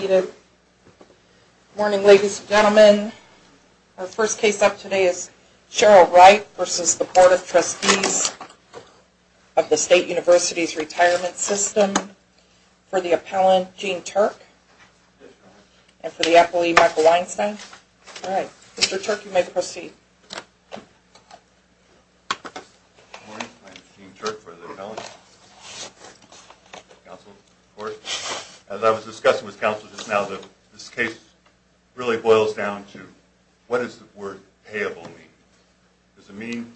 Good morning, ladies and gentlemen. Our first case up today is Cheryl Wright v. The Board of Trustees of the State University's Retirement System for the Appellant, Gene Turk, and for the Appellee, Michael Weinstein. All right. Mr. Turk, you may proceed. Good morning. I'm Gene Turk for the Appellate Counsel's Court. As I was discussing with counsel just now, this case really boils down to what does the word payable mean? Does it mean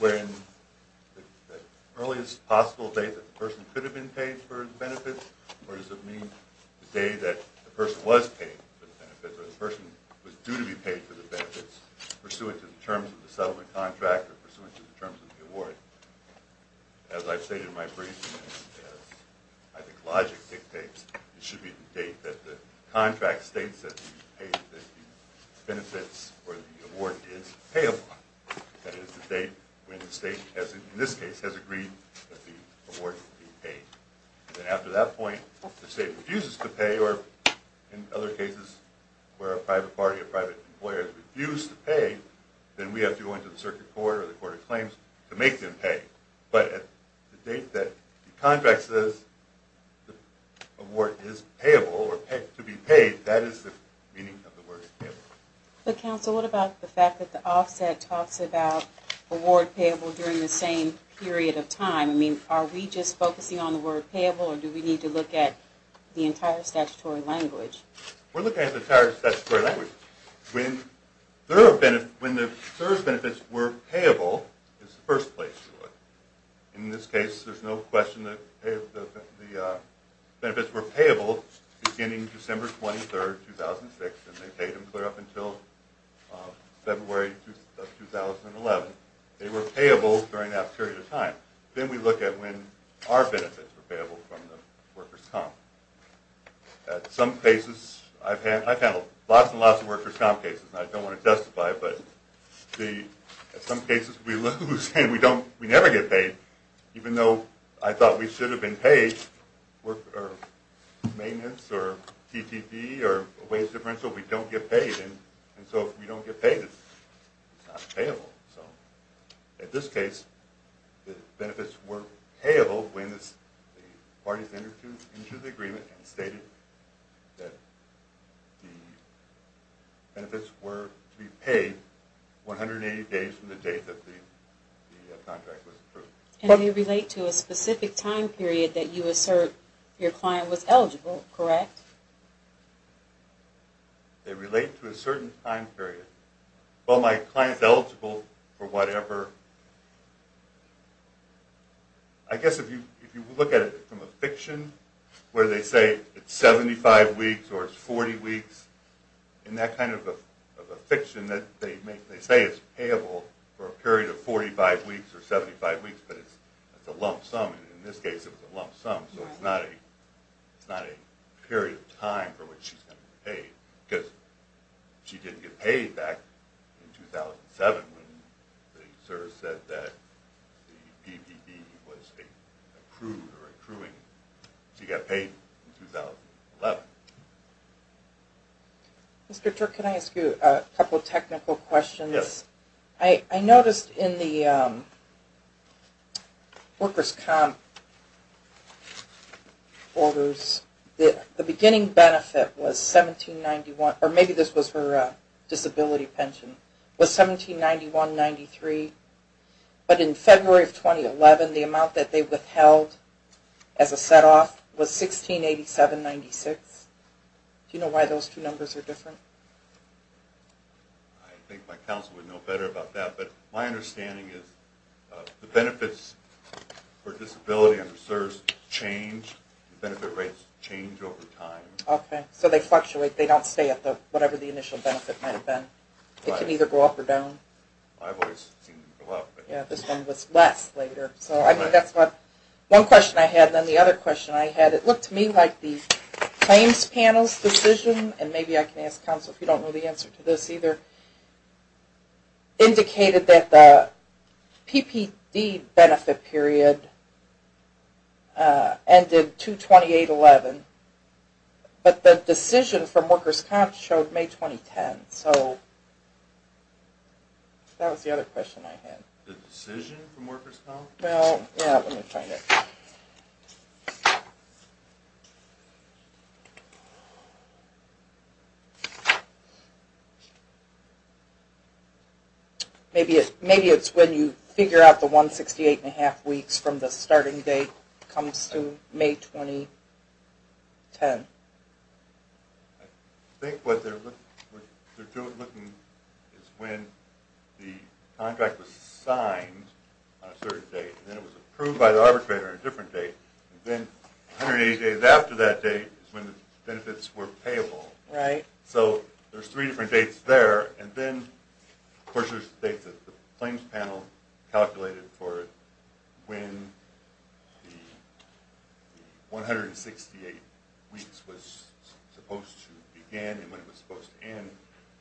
the earliest possible date that the person could have been paid for the benefits, or does it mean the day that the person was paid for the benefits or the person was due to be paid for the benefits pursuant to the terms of the settlement contract or pursuant to the terms of the award? As I've stated in my brief, I think logic dictates it should be the date that the contract states that the benefits or the award is payable. That is the date when the state, in this case, has agreed that the award should be paid. And after that point, if the state refuses to pay, or in other cases where a private party or private employer has refused to pay, then we have to go into the circuit court or the court of claims to make them pay. But at the date that the contract says the award is payable or to be paid, that is the meaning of the word payable. But counsel, what about the fact that the offset talks about award payable during the same period of time? I mean, are we just focusing on the word payable, or do we need to look at the entire statutory language? We're looking at the entire statutory language. When those benefits were payable is the first place to look. In this case, there's no question that the benefits were payable beginning December 23, 2006, and they paid them clear up until February of 2011. They were payable during that period of time. Then we look at when our benefits were payable from the workers' comp. At some cases, I've handled lots and lots of workers' comp cases, and I don't want to testify, but at some cases we lose and we never get paid, even though I thought we should have been paid. So if we don't get paid, it's not payable. So in this case, the benefits were payable when the parties entered into the agreement and stated that the benefits were to be paid 180 days from the date that the contract was approved. And they relate to a specific time period that you assert your client was eligible, correct? They relate to a certain time period. Well, my client is eligible for whatever… I guess if you look at it from a fiction, where they say it's 75 weeks or it's 40 weeks, in that kind of a fiction, they say it's payable for a period of 45 weeks or 75 weeks, but it's a lump sum. And in this case, it was a lump sum, so it's not a period of time for which she's going to be paid. Because she didn't get paid back in 2007 when they sort of said that the PPD was approved or accruing. She got paid in 2011. Mr. Turk, can I ask you a couple of technical questions? Yes. Okay. I noticed in the workers' comp orders, the beginning benefit was 1791, or maybe this was her disability pension, was 1791.93. But in February of 2011, the amount that they withheld as a set-off was 1687.96. Do you know why those two numbers are different? I think my counsel would know better about that, but my understanding is the benefits for disability and reserves change. The benefit rates change over time. Okay. So they fluctuate. They don't stay at whatever the initial benefit might have been. It can either go up or down. I've always seen them go up. This one was less later. So that's one question I had. Then the other question I had, it looked to me like the claims panel's decision, and maybe I can ask counsel if you don't know the answer to this either, indicated that the PPD benefit period ended 2-28-11, but the decision from workers' comp showed May 2010. So that was the other question I had. The decision from workers' comp? Well, yeah, let me find it. Maybe it's when you figure out the 168.5 weeks from the starting date comes to May 2010. I think what they're looking at is when the contract was signed on a certain date, and then it was approved by the arbitrator on a different date, and then 180 days after that date is when the benefits were payable. Right. So there's three different dates there. And then, of course, there's the dates that the claims panel calculated for when the 168 weeks was supposed to begin and when it was supposed to end.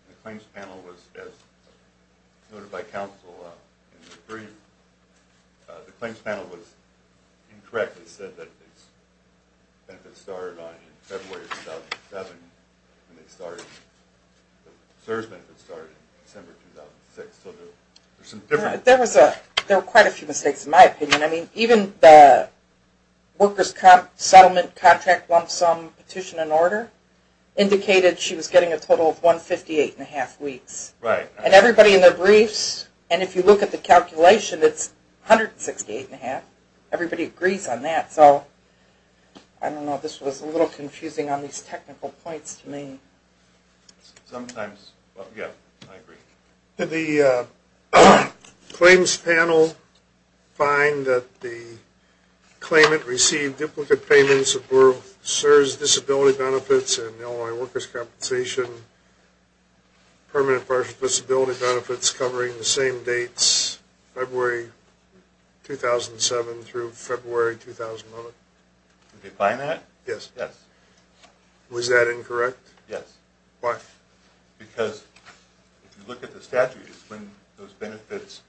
The claims panel was, as noted by counsel in the brief, the claims panel was incorrectly said that the benefits started in February 2007, and the CSRS benefits started in December 2006. There were quite a few mistakes in my opinion. I mean, even the workers' comp settlement contract lump sum petition and order indicated she was getting a total of 158.5 weeks. Right. And everybody in their briefs, and if you look at the calculation, it's 168.5. Everybody agrees on that. So, I don't know, this was a little confusing on these technical points to me. Sometimes. Yeah, I agree. Did the claims panel find that the claimant received duplicate payments of both CSRS disability benefits and Illinois workers' compensation permanent partial disability benefits covering the same dates, February 2007 through February 2009? Did they find that? Yes. Yes. Was that incorrect? Yes. Why? Because if you look at the statute, it's when those benefits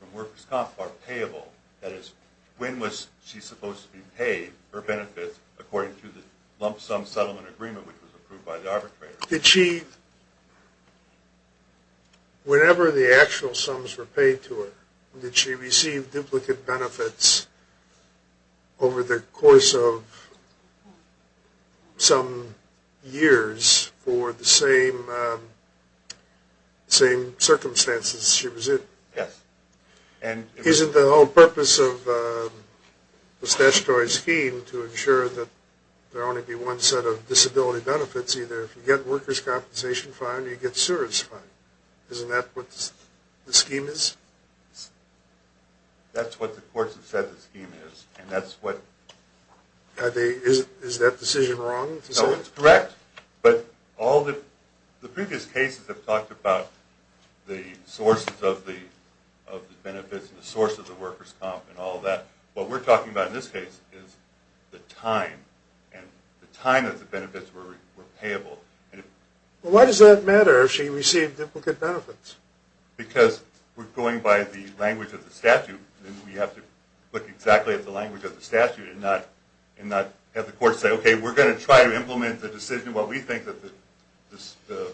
from workers' comp are payable. That is, when was she supposed to be paid her benefits according to the lump sum settlement agreement which was approved by the arbitrator? Did she, whenever the actual sums were paid to her, did she receive duplicate benefits over the course of some years for the same circumstances she was in? Yes. Isn't the whole purpose of the statutory scheme to ensure that there will only be one set of disability benefits, either if you get workers' compensation fine or you get CSRS fine? Isn't that what the scheme is? That's what the courts have said the scheme is, and that's what... Is that decision wrong? No, it's correct, but all the previous cases have talked about the sources of the benefits and the source of the workers' comp and all that. What we're talking about in this case is the time and the time that the benefits were payable. Well, why does that matter if she received duplicate benefits? Because we're going by the language of the statute, and we have to look exactly at the language of the statute and not have the courts say, okay, we're going to try to implement the decision, what we think that the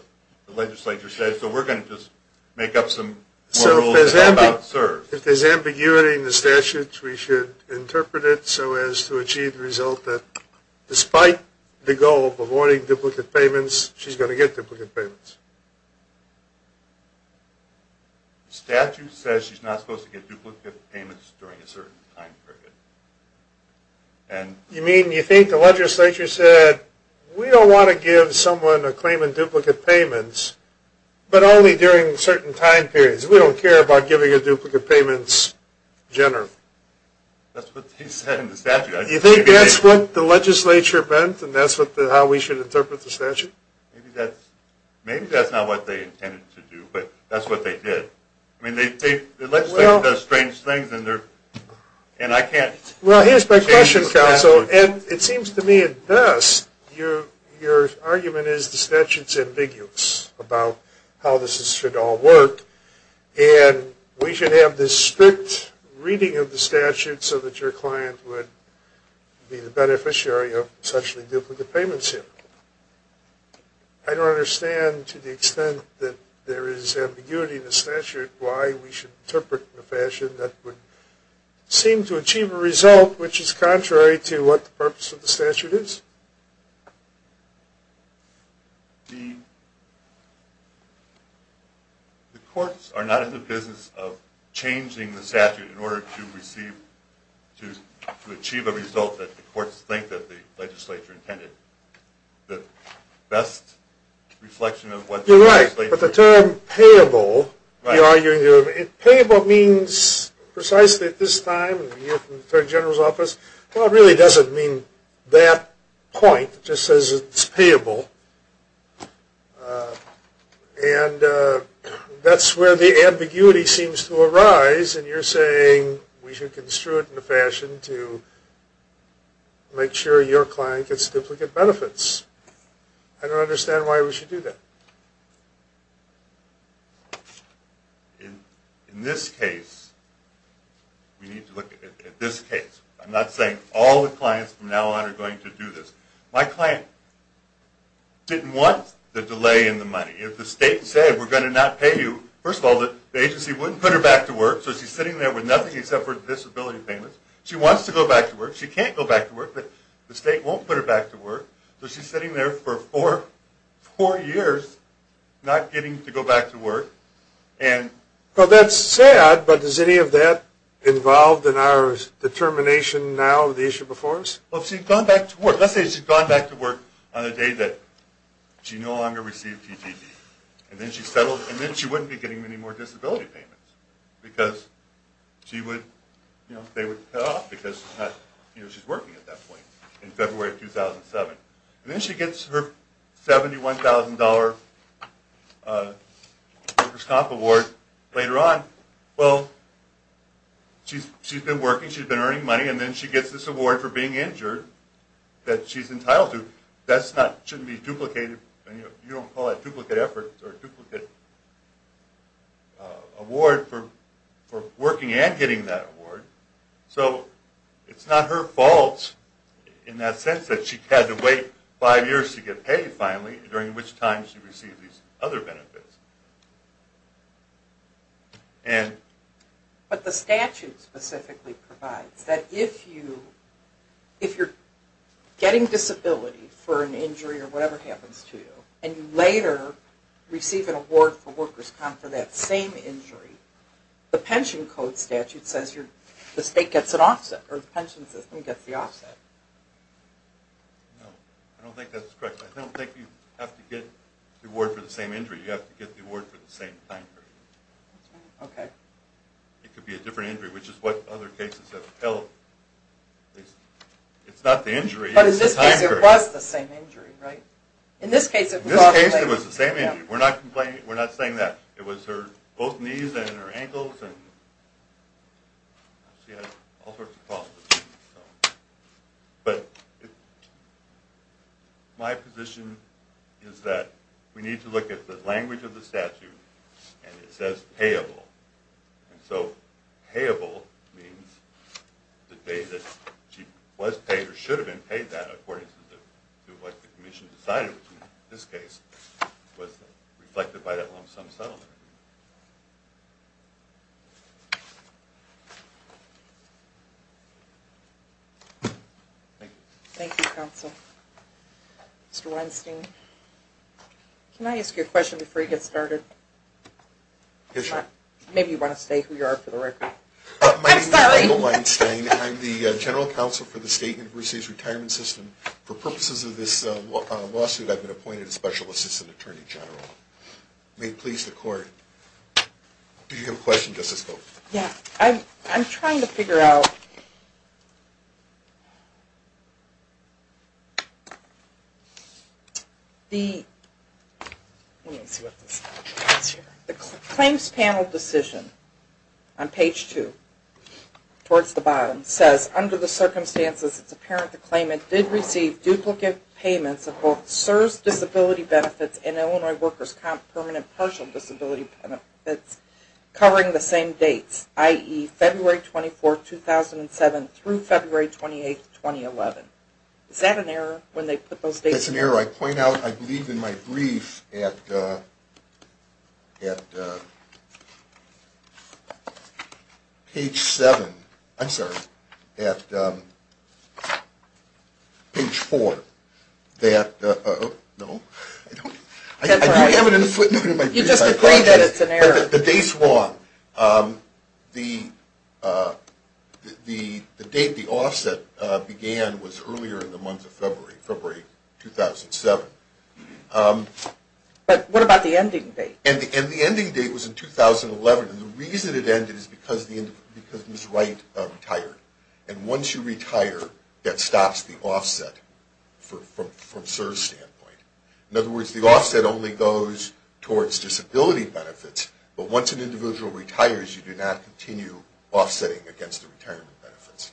legislature says, so we're going to just make up some more rules about CSRS. If there's ambiguity in the statute, we should interpret it so as to achieve the result that despite the goal of avoiding duplicate payments, she's going to get duplicate payments. The statute says she's not supposed to get duplicate payments during a certain time period. You mean you think the legislature said, we don't want to give someone a claim in duplicate payments, but only during certain time periods. We don't care about giving a duplicate payment generally. That's what they said in the statute. You think that's what the legislature meant, and that's how we should interpret the statute? Maybe that's not what they intended to do, but that's what they did. I mean, the legislature does strange things, and I can't... Well, here's my question, counsel, and it seems to me at best, your argument is the statute's ambiguous about how this should all work, and we should have this strict reading of the statute so that your client would be the beneficiary of essentially duplicate payments here. I don't understand to the extent that there is ambiguity in the statute why we should interpret in a fashion that would seem to achieve a result which is contrary to what the purpose of the statute is. The courts are not in the business of changing the statute in order to achieve a result that the courts think that the legislature intended. The best reflection of what the legislature... You're right, but the term payable... Right. Just says it's payable, and that's where the ambiguity seems to arise, and you're saying we should construe it in a fashion to make sure your client gets duplicate benefits. I don't understand why we should do that. In this case, we need to look at this case. I'm not saying all the clients from now on are going to do this. My client didn't want the delay in the money. If the state said we're going to not pay you... First of all, the agency wouldn't put her back to work, so she's sitting there with nothing except for disability payments. She wants to go back to work. She can't go back to work, but the state won't put her back to work, so she's sitting there for four years not getting to go back to work. That's sad, but is any of that involved in our determination now of the issue before us? Let's say she's gone back to work on the day that she no longer received TDD, and then she wouldn't be getting any more disability payments, because they would cut off because she's working at that point in February of 2007. Then she gets her $71,000 workers' comp award later on. Well, she's been working, she's been earning money, and then she gets this award for being injured that she's entitled to. That shouldn't be duplicated. You don't call that duplicate effort or duplicate award for working and getting that award. So it's not her fault in that sense that she had to wait five years to get paid finally, during which time she received these other benefits. But the statute specifically provides that if you're getting disability for an injury or whatever happens to you, and you later receive an award for workers' comp for that same injury, the pension code statute says the state gets an offset, or the pension system gets the offset. No, I don't think that's correct. I don't think you have to get the award for the same injury. You have to get the award for the same time period. It could be a different injury, which is what other cases have held. It's not the injury, it's the time period. But in this case, it was the same injury, right? In this case, it was the same injury. We're not saying that. It was both knees and her ankles, and she had all sorts of problems. But my position is that we need to look at the language of the statute, and it says payable. And so payable means the day that she was paid or should have been paid that, according to what the commission decided, which in this case was reflected by that long-sum settlement. Thank you. Thank you, Counsel. Mr. Weinstein, can I ask you a question before you get started? Yes, ma'am. Maybe you want to state who you are for the record. I'm sorry. My name is Michael Weinstein. I'm the general counsel for the State University's retirement system. For purposes of this lawsuit, I've been appointed a special assistant attorney general. May it please the Court. Do you have a question, Justice Cope? Yes. I'm trying to figure out the claims panel decision on page 2 towards the bottom. It says, under the circumstances, it's apparent the claimant did receive duplicate payments of both CSRS disability benefits and Illinois workers' comp permanent partial disability benefits covering the same dates, i.e., February 24th, 2007 through February 28th, 2011. Is that an error when they put those dates in? That's an error. I point out, I believe in my brief at page 7. I'm sorry, at page 4. You just agree that it's an error. The date's wrong. The date the offset began was earlier in the month of February, February 2007. But what about the ending date? And the ending date was in 2011. And the reason it ended is because Ms. Wright retired. And once you retire, that stops the offset from CSRS' standpoint. In other words, the offset only goes towards disability benefits. But once an individual retires, you do not continue offsetting against the retirement benefits.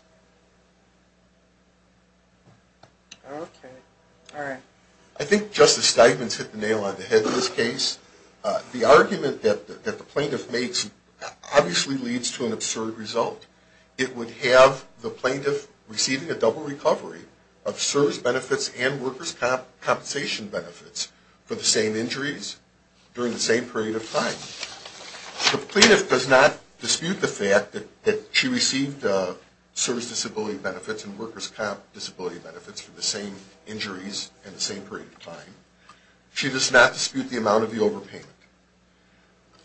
Okay. All right. I think Justice Steigman's hit the nail on the head in this case. The argument that the plaintiff makes obviously leads to an absurd result. It would have the plaintiff receiving a double recovery of service benefits and workers' compensation benefits for the same injuries during the same period of time. The plaintiff does not dispute the fact that she received service disability benefits and workers' disability benefits for the same injuries in the same period of time. She does not dispute the amount of the overpayment.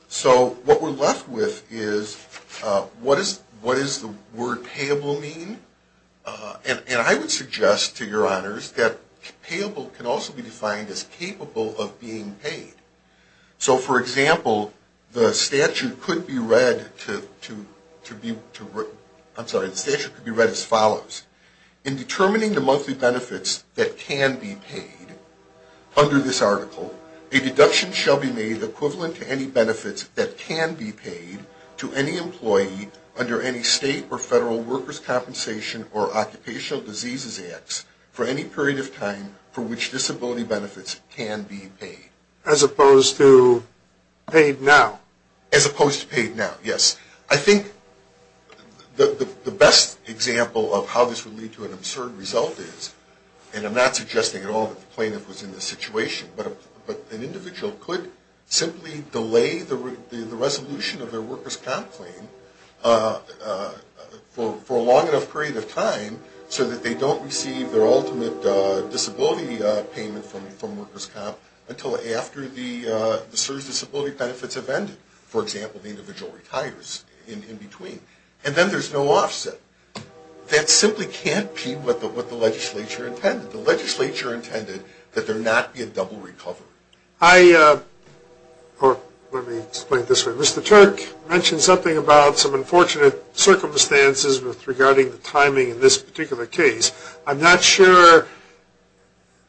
So what we're left with is what does the word payable mean? And I would suggest to your honors that payable can also be defined as capable of being paid. So, for example, the statute could be read as follows. In determining the monthly benefits that can be paid under this article, a deduction shall be made equivalent to any benefits that can be paid to any employee under any state or federal workers' compensation or occupational diseases acts for any period of time for which disability benefits can be paid. As opposed to paid now. As opposed to paid now, yes. I think the best example of how this would lead to an absurd result is, and I'm not suggesting at all that the plaintiff was in this situation, but an individual could simply delay the resolution of their workers' comp claim for a long enough period of time so that they don't receive their ultimate disability payment from workers' comp until after the service disability benefits have ended. For example, the individual retires in between. And then there's no offset. That simply can't be what the legislature intended. The legislature intended that there not be a double recovery. Let me explain it this way. Mr. Turk mentioned something about some unfortunate circumstances regarding the timing in this particular case. I'm not sure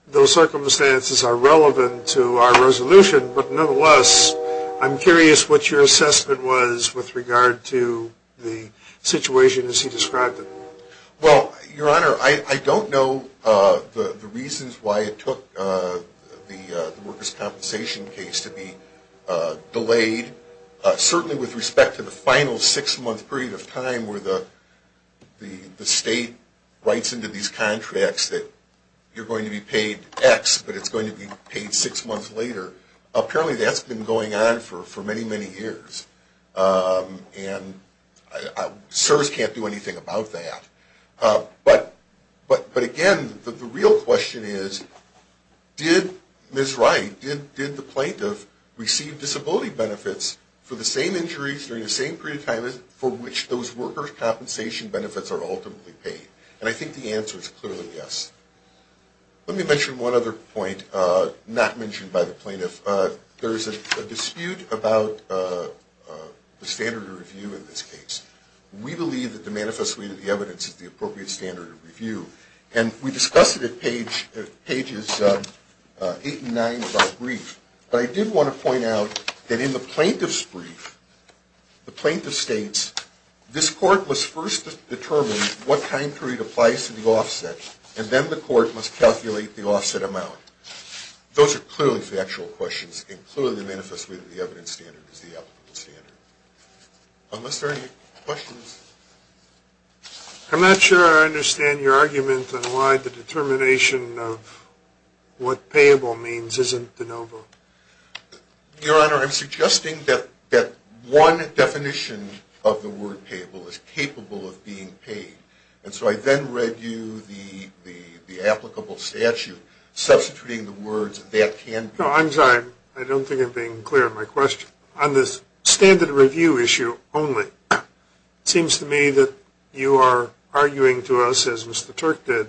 those circumstances are relevant to our resolution, but nonetheless, I'm curious what your assessment was with regard to the situation as he described it. Well, Your Honor, I don't know the reasons why it took the workers' compensation case to be delayed. Certainly with respect to the final six-month period of time where the state writes into these contracts that you're going to be paid X, but it's going to be paid six months later, apparently that's been going on for many, many years. And CSRS can't do anything about that. But again, the real question is, did Ms. Wright, did the plaintiff receive disability benefits for the same injuries during the same period of time for which those workers' compensation benefits are ultimately paid? And I think the answer is clearly yes. Let me mention one other point not mentioned by the plaintiff. There is a dispute about the standard of review in this case. We believe that the manifesto of the evidence is the appropriate standard of review, and we discussed it at pages 8 and 9 of our brief. But I did want to point out that in the plaintiff's brief, the plaintiff states, this court must first determine what time period applies to the offset, and then the court must calculate the offset amount. Those are clearly factual questions, and clearly the manifesto of the evidence standard is the appropriate standard. Unless there are any questions? I'm not sure I understand your argument on why the determination of what payable means isn't de novo. Your Honor, I'm suggesting that one definition of the word payable is capable of being paid, and so I then read you the applicable statute substituting the words that that can be. No, I'm sorry. I don't think I'm being clear on my question. On this standard of review issue only, it seems to me that you are arguing to us, as Mr. Turk did,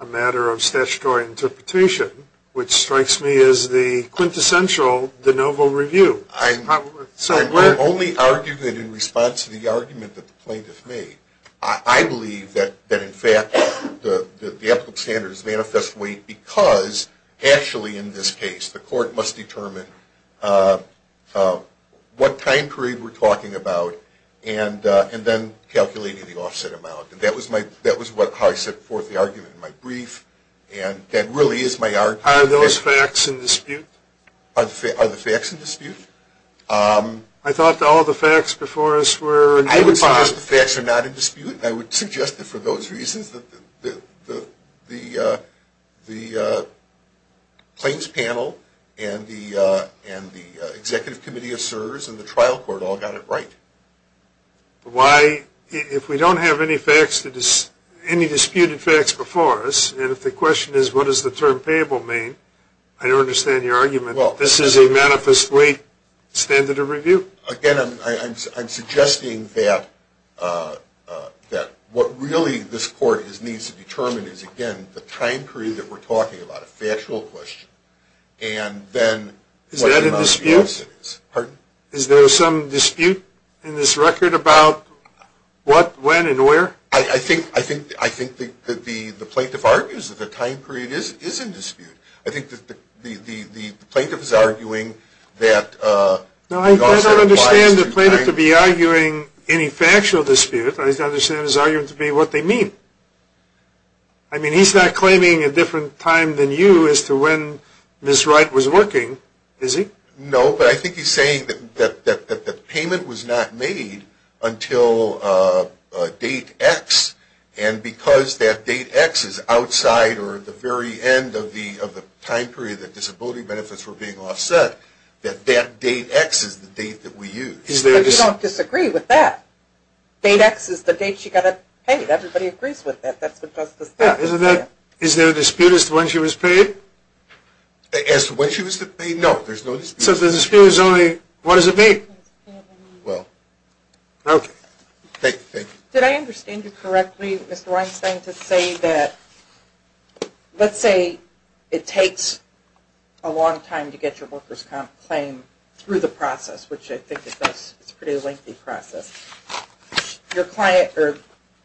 a matter of statutory interpretation, which strikes me as the quintessential de novo review. I'm only arguing it in response to the argument that the plaintiff made. I believe that, in fact, the applicable standard is manifestly because, actually in this case, the court must determine what time period we're talking about and then calculating the offset amount. That was how I set forth the argument in my brief, and that really is my argument. Are those facts in dispute? Are the facts in dispute? I thought all the facts before us were in dispute. I would suggest the facts are not in dispute, and I would suggest that for those reasons the claims panel and the executive committee of CSRS and the trial court all got it right. Why, if we don't have any facts, any disputed facts before us, and if the question is what does the term payable mean, I don't understand your argument that this is a manifestly standard of review. Again, I'm suggesting that what really this court needs to determine is, again, the time period that we're talking about, a factual question, and then what the amount of payable is. Is that in dispute? Is there a dispute in this record about what, when, and where? I think the plaintiff argues that the time period is in dispute. I think the plaintiff is arguing that the offset applies to time. No, I don't understand the plaintiff to be arguing any factual dispute. I understand his argument to be what they mean. I mean, he's not claiming a different time than you as to when Ms. Wright was working, is he? No, but I think he's saying that the payment was not made until date X, and because that date X is outside or at the very end of the time period that disability benefits were being offset, that that date X is the date that we use. But you don't disagree with that. Date X is the date she got it paid. Everybody agrees with that. Is there a dispute as to when she was paid? As to when she was paid? No, there's no dispute. So the dispute is only, what does it mean? Well, okay. Thank you. Did I understand you correctly, Mr. Weinstein, to say that let's say it takes a long time to get your worker's comp claim through the process, which I think is a pretty lengthy process. Your client, or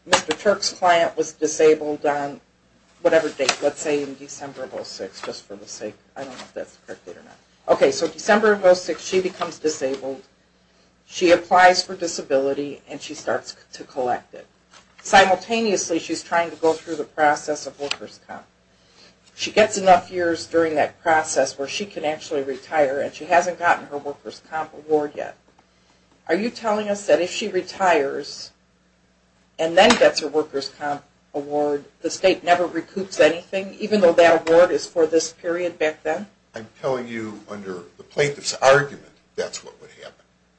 Mr. Turk's client, was disabled on whatever date. Let's say December of 2006, just for the sake. I don't know if that's correct or not. Okay, so December of 2006, she becomes disabled. She applies for disability, and she starts to collect it. Simultaneously, she's trying to go through the process of worker's comp. She gets enough years during that process where she can actually retire, and she hasn't gotten her worker's comp award yet. Are you telling us that if she retires and then gets her worker's comp award, the state never recoups anything, even though that award is for this period back then? I'm telling you under the plaintiff's argument, that's what would happen.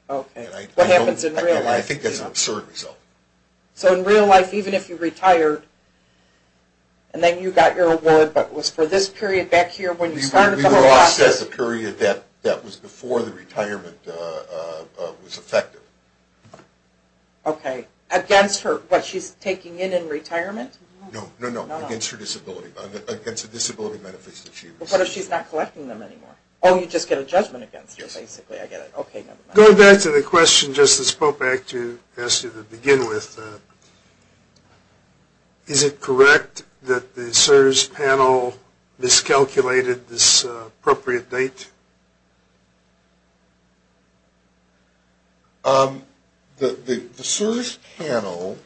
Okay. What happens in real life. I think that's an absurd result. So in real life, even if you retired, and then you got your award, but it was for this period back here when you started the whole process? It says the period that was before the retirement was effective. Okay. Against her, what, she's taking it in retirement? No, no, no. Against her disability. Against the disability benefits that she received. What if she's not collecting them anymore? Oh, you just get a judgment against her, basically. I get it. Okay, never mind. Going back to the question, just to go back to the issue to begin with, is it correct that the CSRS panel miscalculated this appropriate date? The CSRS panel,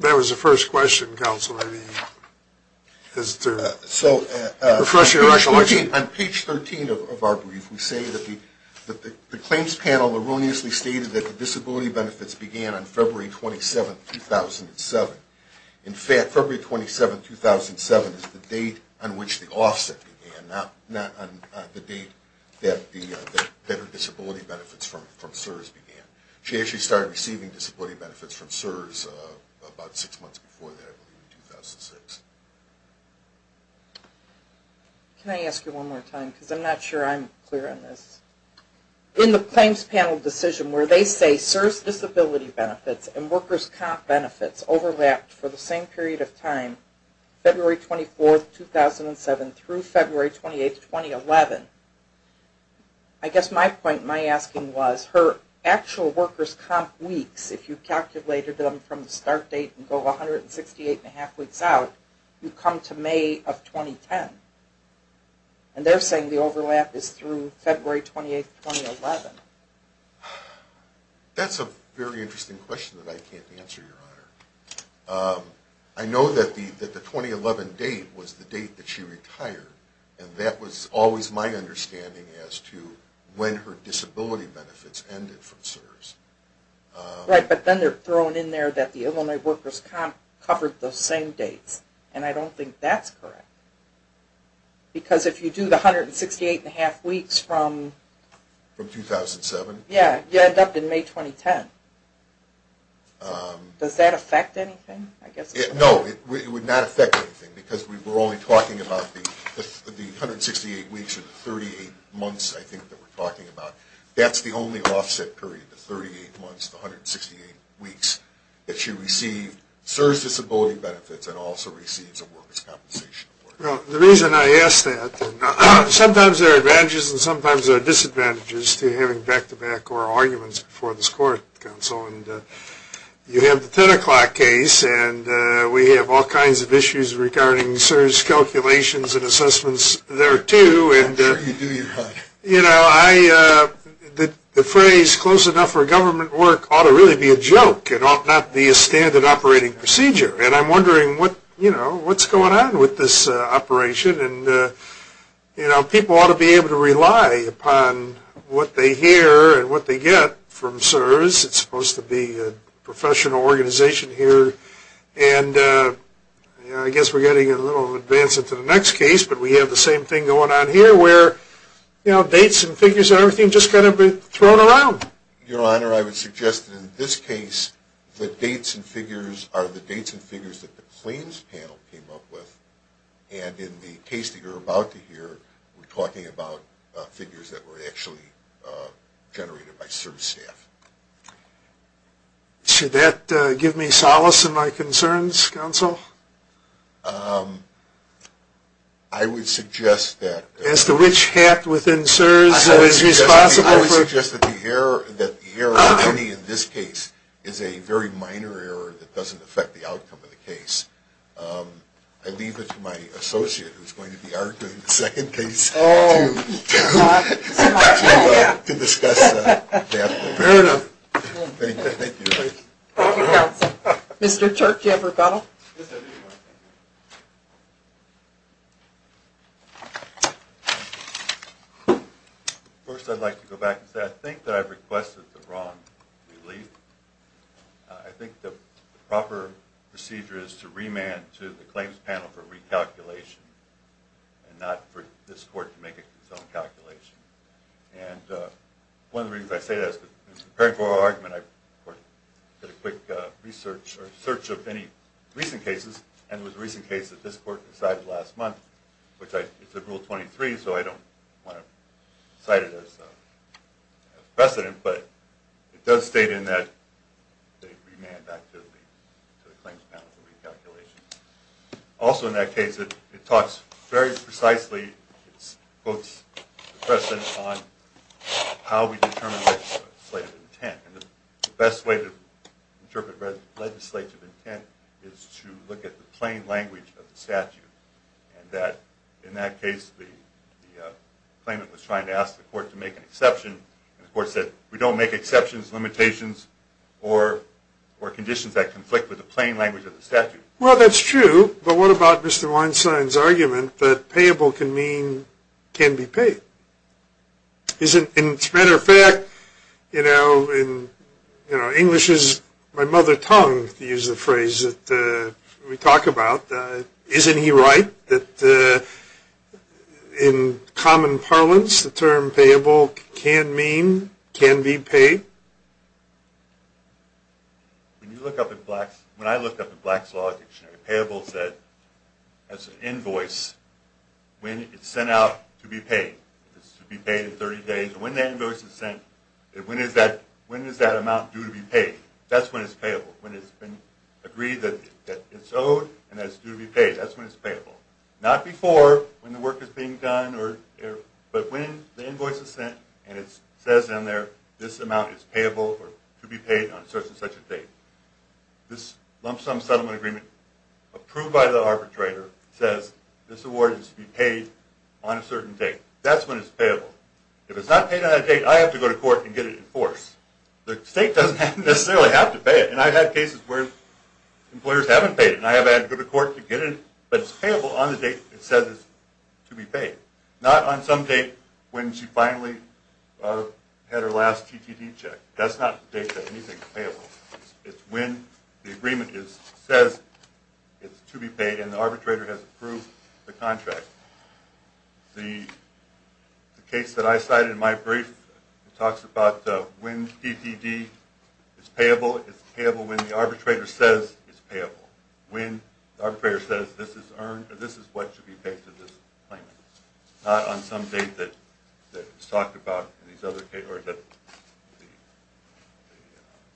that was the first question. So on page 13 of our brief, we say that the claims panel erroneously stated that the disability benefits began on February 27, 2007. In fact, February 27, 2007 is the date on which the offset began, not the date that her disability benefits from CSRS began. She actually started receiving disability benefits from CSRS about six months before that, I believe, in 2006. Can I ask you one more time because I'm not sure I'm clear on this? In the claims panel decision where they say CSRS disability benefits and workers' comp benefits overlapped for the same period of time, February 24, 2007 through February 28, 2011, I guess my point, my understanding was her actual workers' comp weeks, if you calculated them from the start date and go 168.5 weeks out, you come to May of 2010. And they're saying the overlap is through February 28, 2011. That's a very interesting question that I can't answer, Your Honor. I know that the 2011 date was the date that she retired, and that was always my understanding as to when her disability benefits ended from CSRS. Right, but then they're throwing in there that the Illinois workers' comp covered those same dates, and I don't think that's correct. Because if you do the 168.5 weeks from... From 2007? Yeah, you end up in May 2010. Does that affect anything? No, it would not affect anything, because we're only talking about the 168 weeks or the 38 months, I think, that we're talking about. That's the only offset period, the 38 months, the 168 weeks, that she received CSRS disability benefits and also receives a workers' compensation award. Well, the reason I ask that, sometimes there are advantages and sometimes there are disadvantages to having back-to-back oral arguments before this court, Counsel, and you have the 10 o'clock case, and we have all kinds of issues regarding CSRS calculations and assessments there, too. You do your part. You know, the phrase, close enough for government work ought to really be a joke and ought not be a standard operating procedure. And I'm wondering what's going on with this operation, and people ought to be able to rely upon what they hear and what they get from CSRS. It's supposed to be a professional organization here, and I guess we're getting a little advanced into the next case, but we have the same thing going on here, where, you know, dates and figures and everything just kind of get thrown around. Your Honor, I would suggest that in this case, the dates and figures are the dates and figures that the claims panel came up with, and in the case that you're about to hear, we're talking about figures that were actually generated by CSRS staff. Should that give me solace in my concerns, Counsel? I would suggest that... As to which hat within CSRS is responsible for... I would suggest that the error in this case is a very minor error that doesn't affect the outcome of the case. I leave it to my associate, who's going to be arguing the second case, to discuss that. Fair enough. Thank you. Thank you, Counsel. Mr. Turk, do you have a rebuttal? Yes, I do. First, I'd like to go back and say, I think that I requested the wrong relief. I think the proper procedure is to remand to the claims panel for recalculation, and not for this Court to make its own calculation. And one of the reasons I say that is that, in preparing for our argument, I did a quick research or search of any recent cases, and it was a recent case that this Court decided last month, which it's in Rule 23, so I don't want to cite it as precedent, but it does state in that they remand back to the claims panel for recalculation. Also in that case, it talks very precisely, it quotes the precedent on how we determine legislative intent. And the best way to interpret legislative intent is to look at the plain language of the statute, and that, in that case, the claimant was trying to ask the Court to make an exception, and the Court said, we don't make exceptions, limitations, or conditions that conflict with the plain language of the statute. Well, that's true, but what about Mr. Weinstein's argument that payable can be paid? As a matter of fact, in English's, my mother tongue, to use the phrase that we talk about, isn't he right that in common parlance, the term payable can mean, can be paid? When you look up in Black's, when I looked up in Black's Law Dictionary, payable said, as an invoice, when it's sent out to be paid. It's to be paid in 30 days, and when that invoice is sent, when is that amount due to be paid? That's when it's payable, when it's been agreed that it's owed, and that it's due to be paid. That's when it's payable. Not before, when the work is being done, but when the invoice is sent, and it says in there, this amount is payable, or to be paid on such and such a date. This lump sum settlement agreement, approved by the arbitrator, says this award is to be paid on a certain date. That's when it's payable. If it's not paid on that date, I have to go to court and get it enforced. The state doesn't necessarily have to pay it, and I've had cases where employers haven't paid it, and I've had to go to court to get it, but it's payable on the date it says it's to be paid. Not on some date when she finally had her last TTD check. That's not the date that anything is payable. It's when the agreement says it's to be paid, and the arbitrator has approved the contract. The case that I cited in my brief talks about when TTD is payable. It's payable when the arbitrator says it's payable. When the arbitrator says this is what should be paid It's not on some date that it's talked about in these other cases, or that the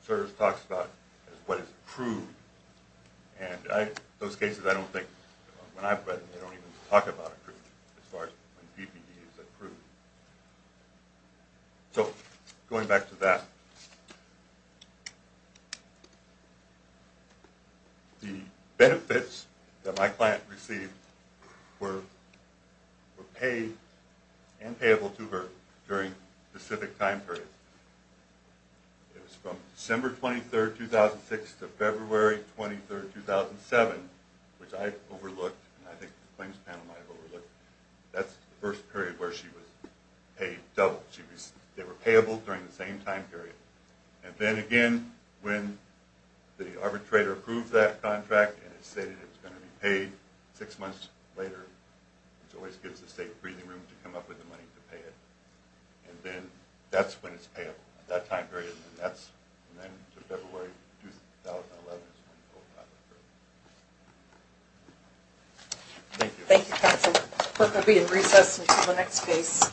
service talks about what is approved. And those cases I don't think, when I've read them, they don't even talk about approval as far as when TTD is approved. So, going back to that. The benefits that my client received were paid and payable to her during a specific time period. It was from December 23rd, 2006 to February 23rd, 2007, which I overlooked, and I think the claims panel might have overlooked. That's the first period where she was paid double. They were payable during the same time period. And then again, when the arbitrator approves that contract and it's stated it's going to be paid six months later, which always gives the state a breathing room to come up with the money to pay it. And then, that's when it's payable. That time period, and then to February 2011. Thank you. Thank you, counsel. The clerk will be in recess until the next case.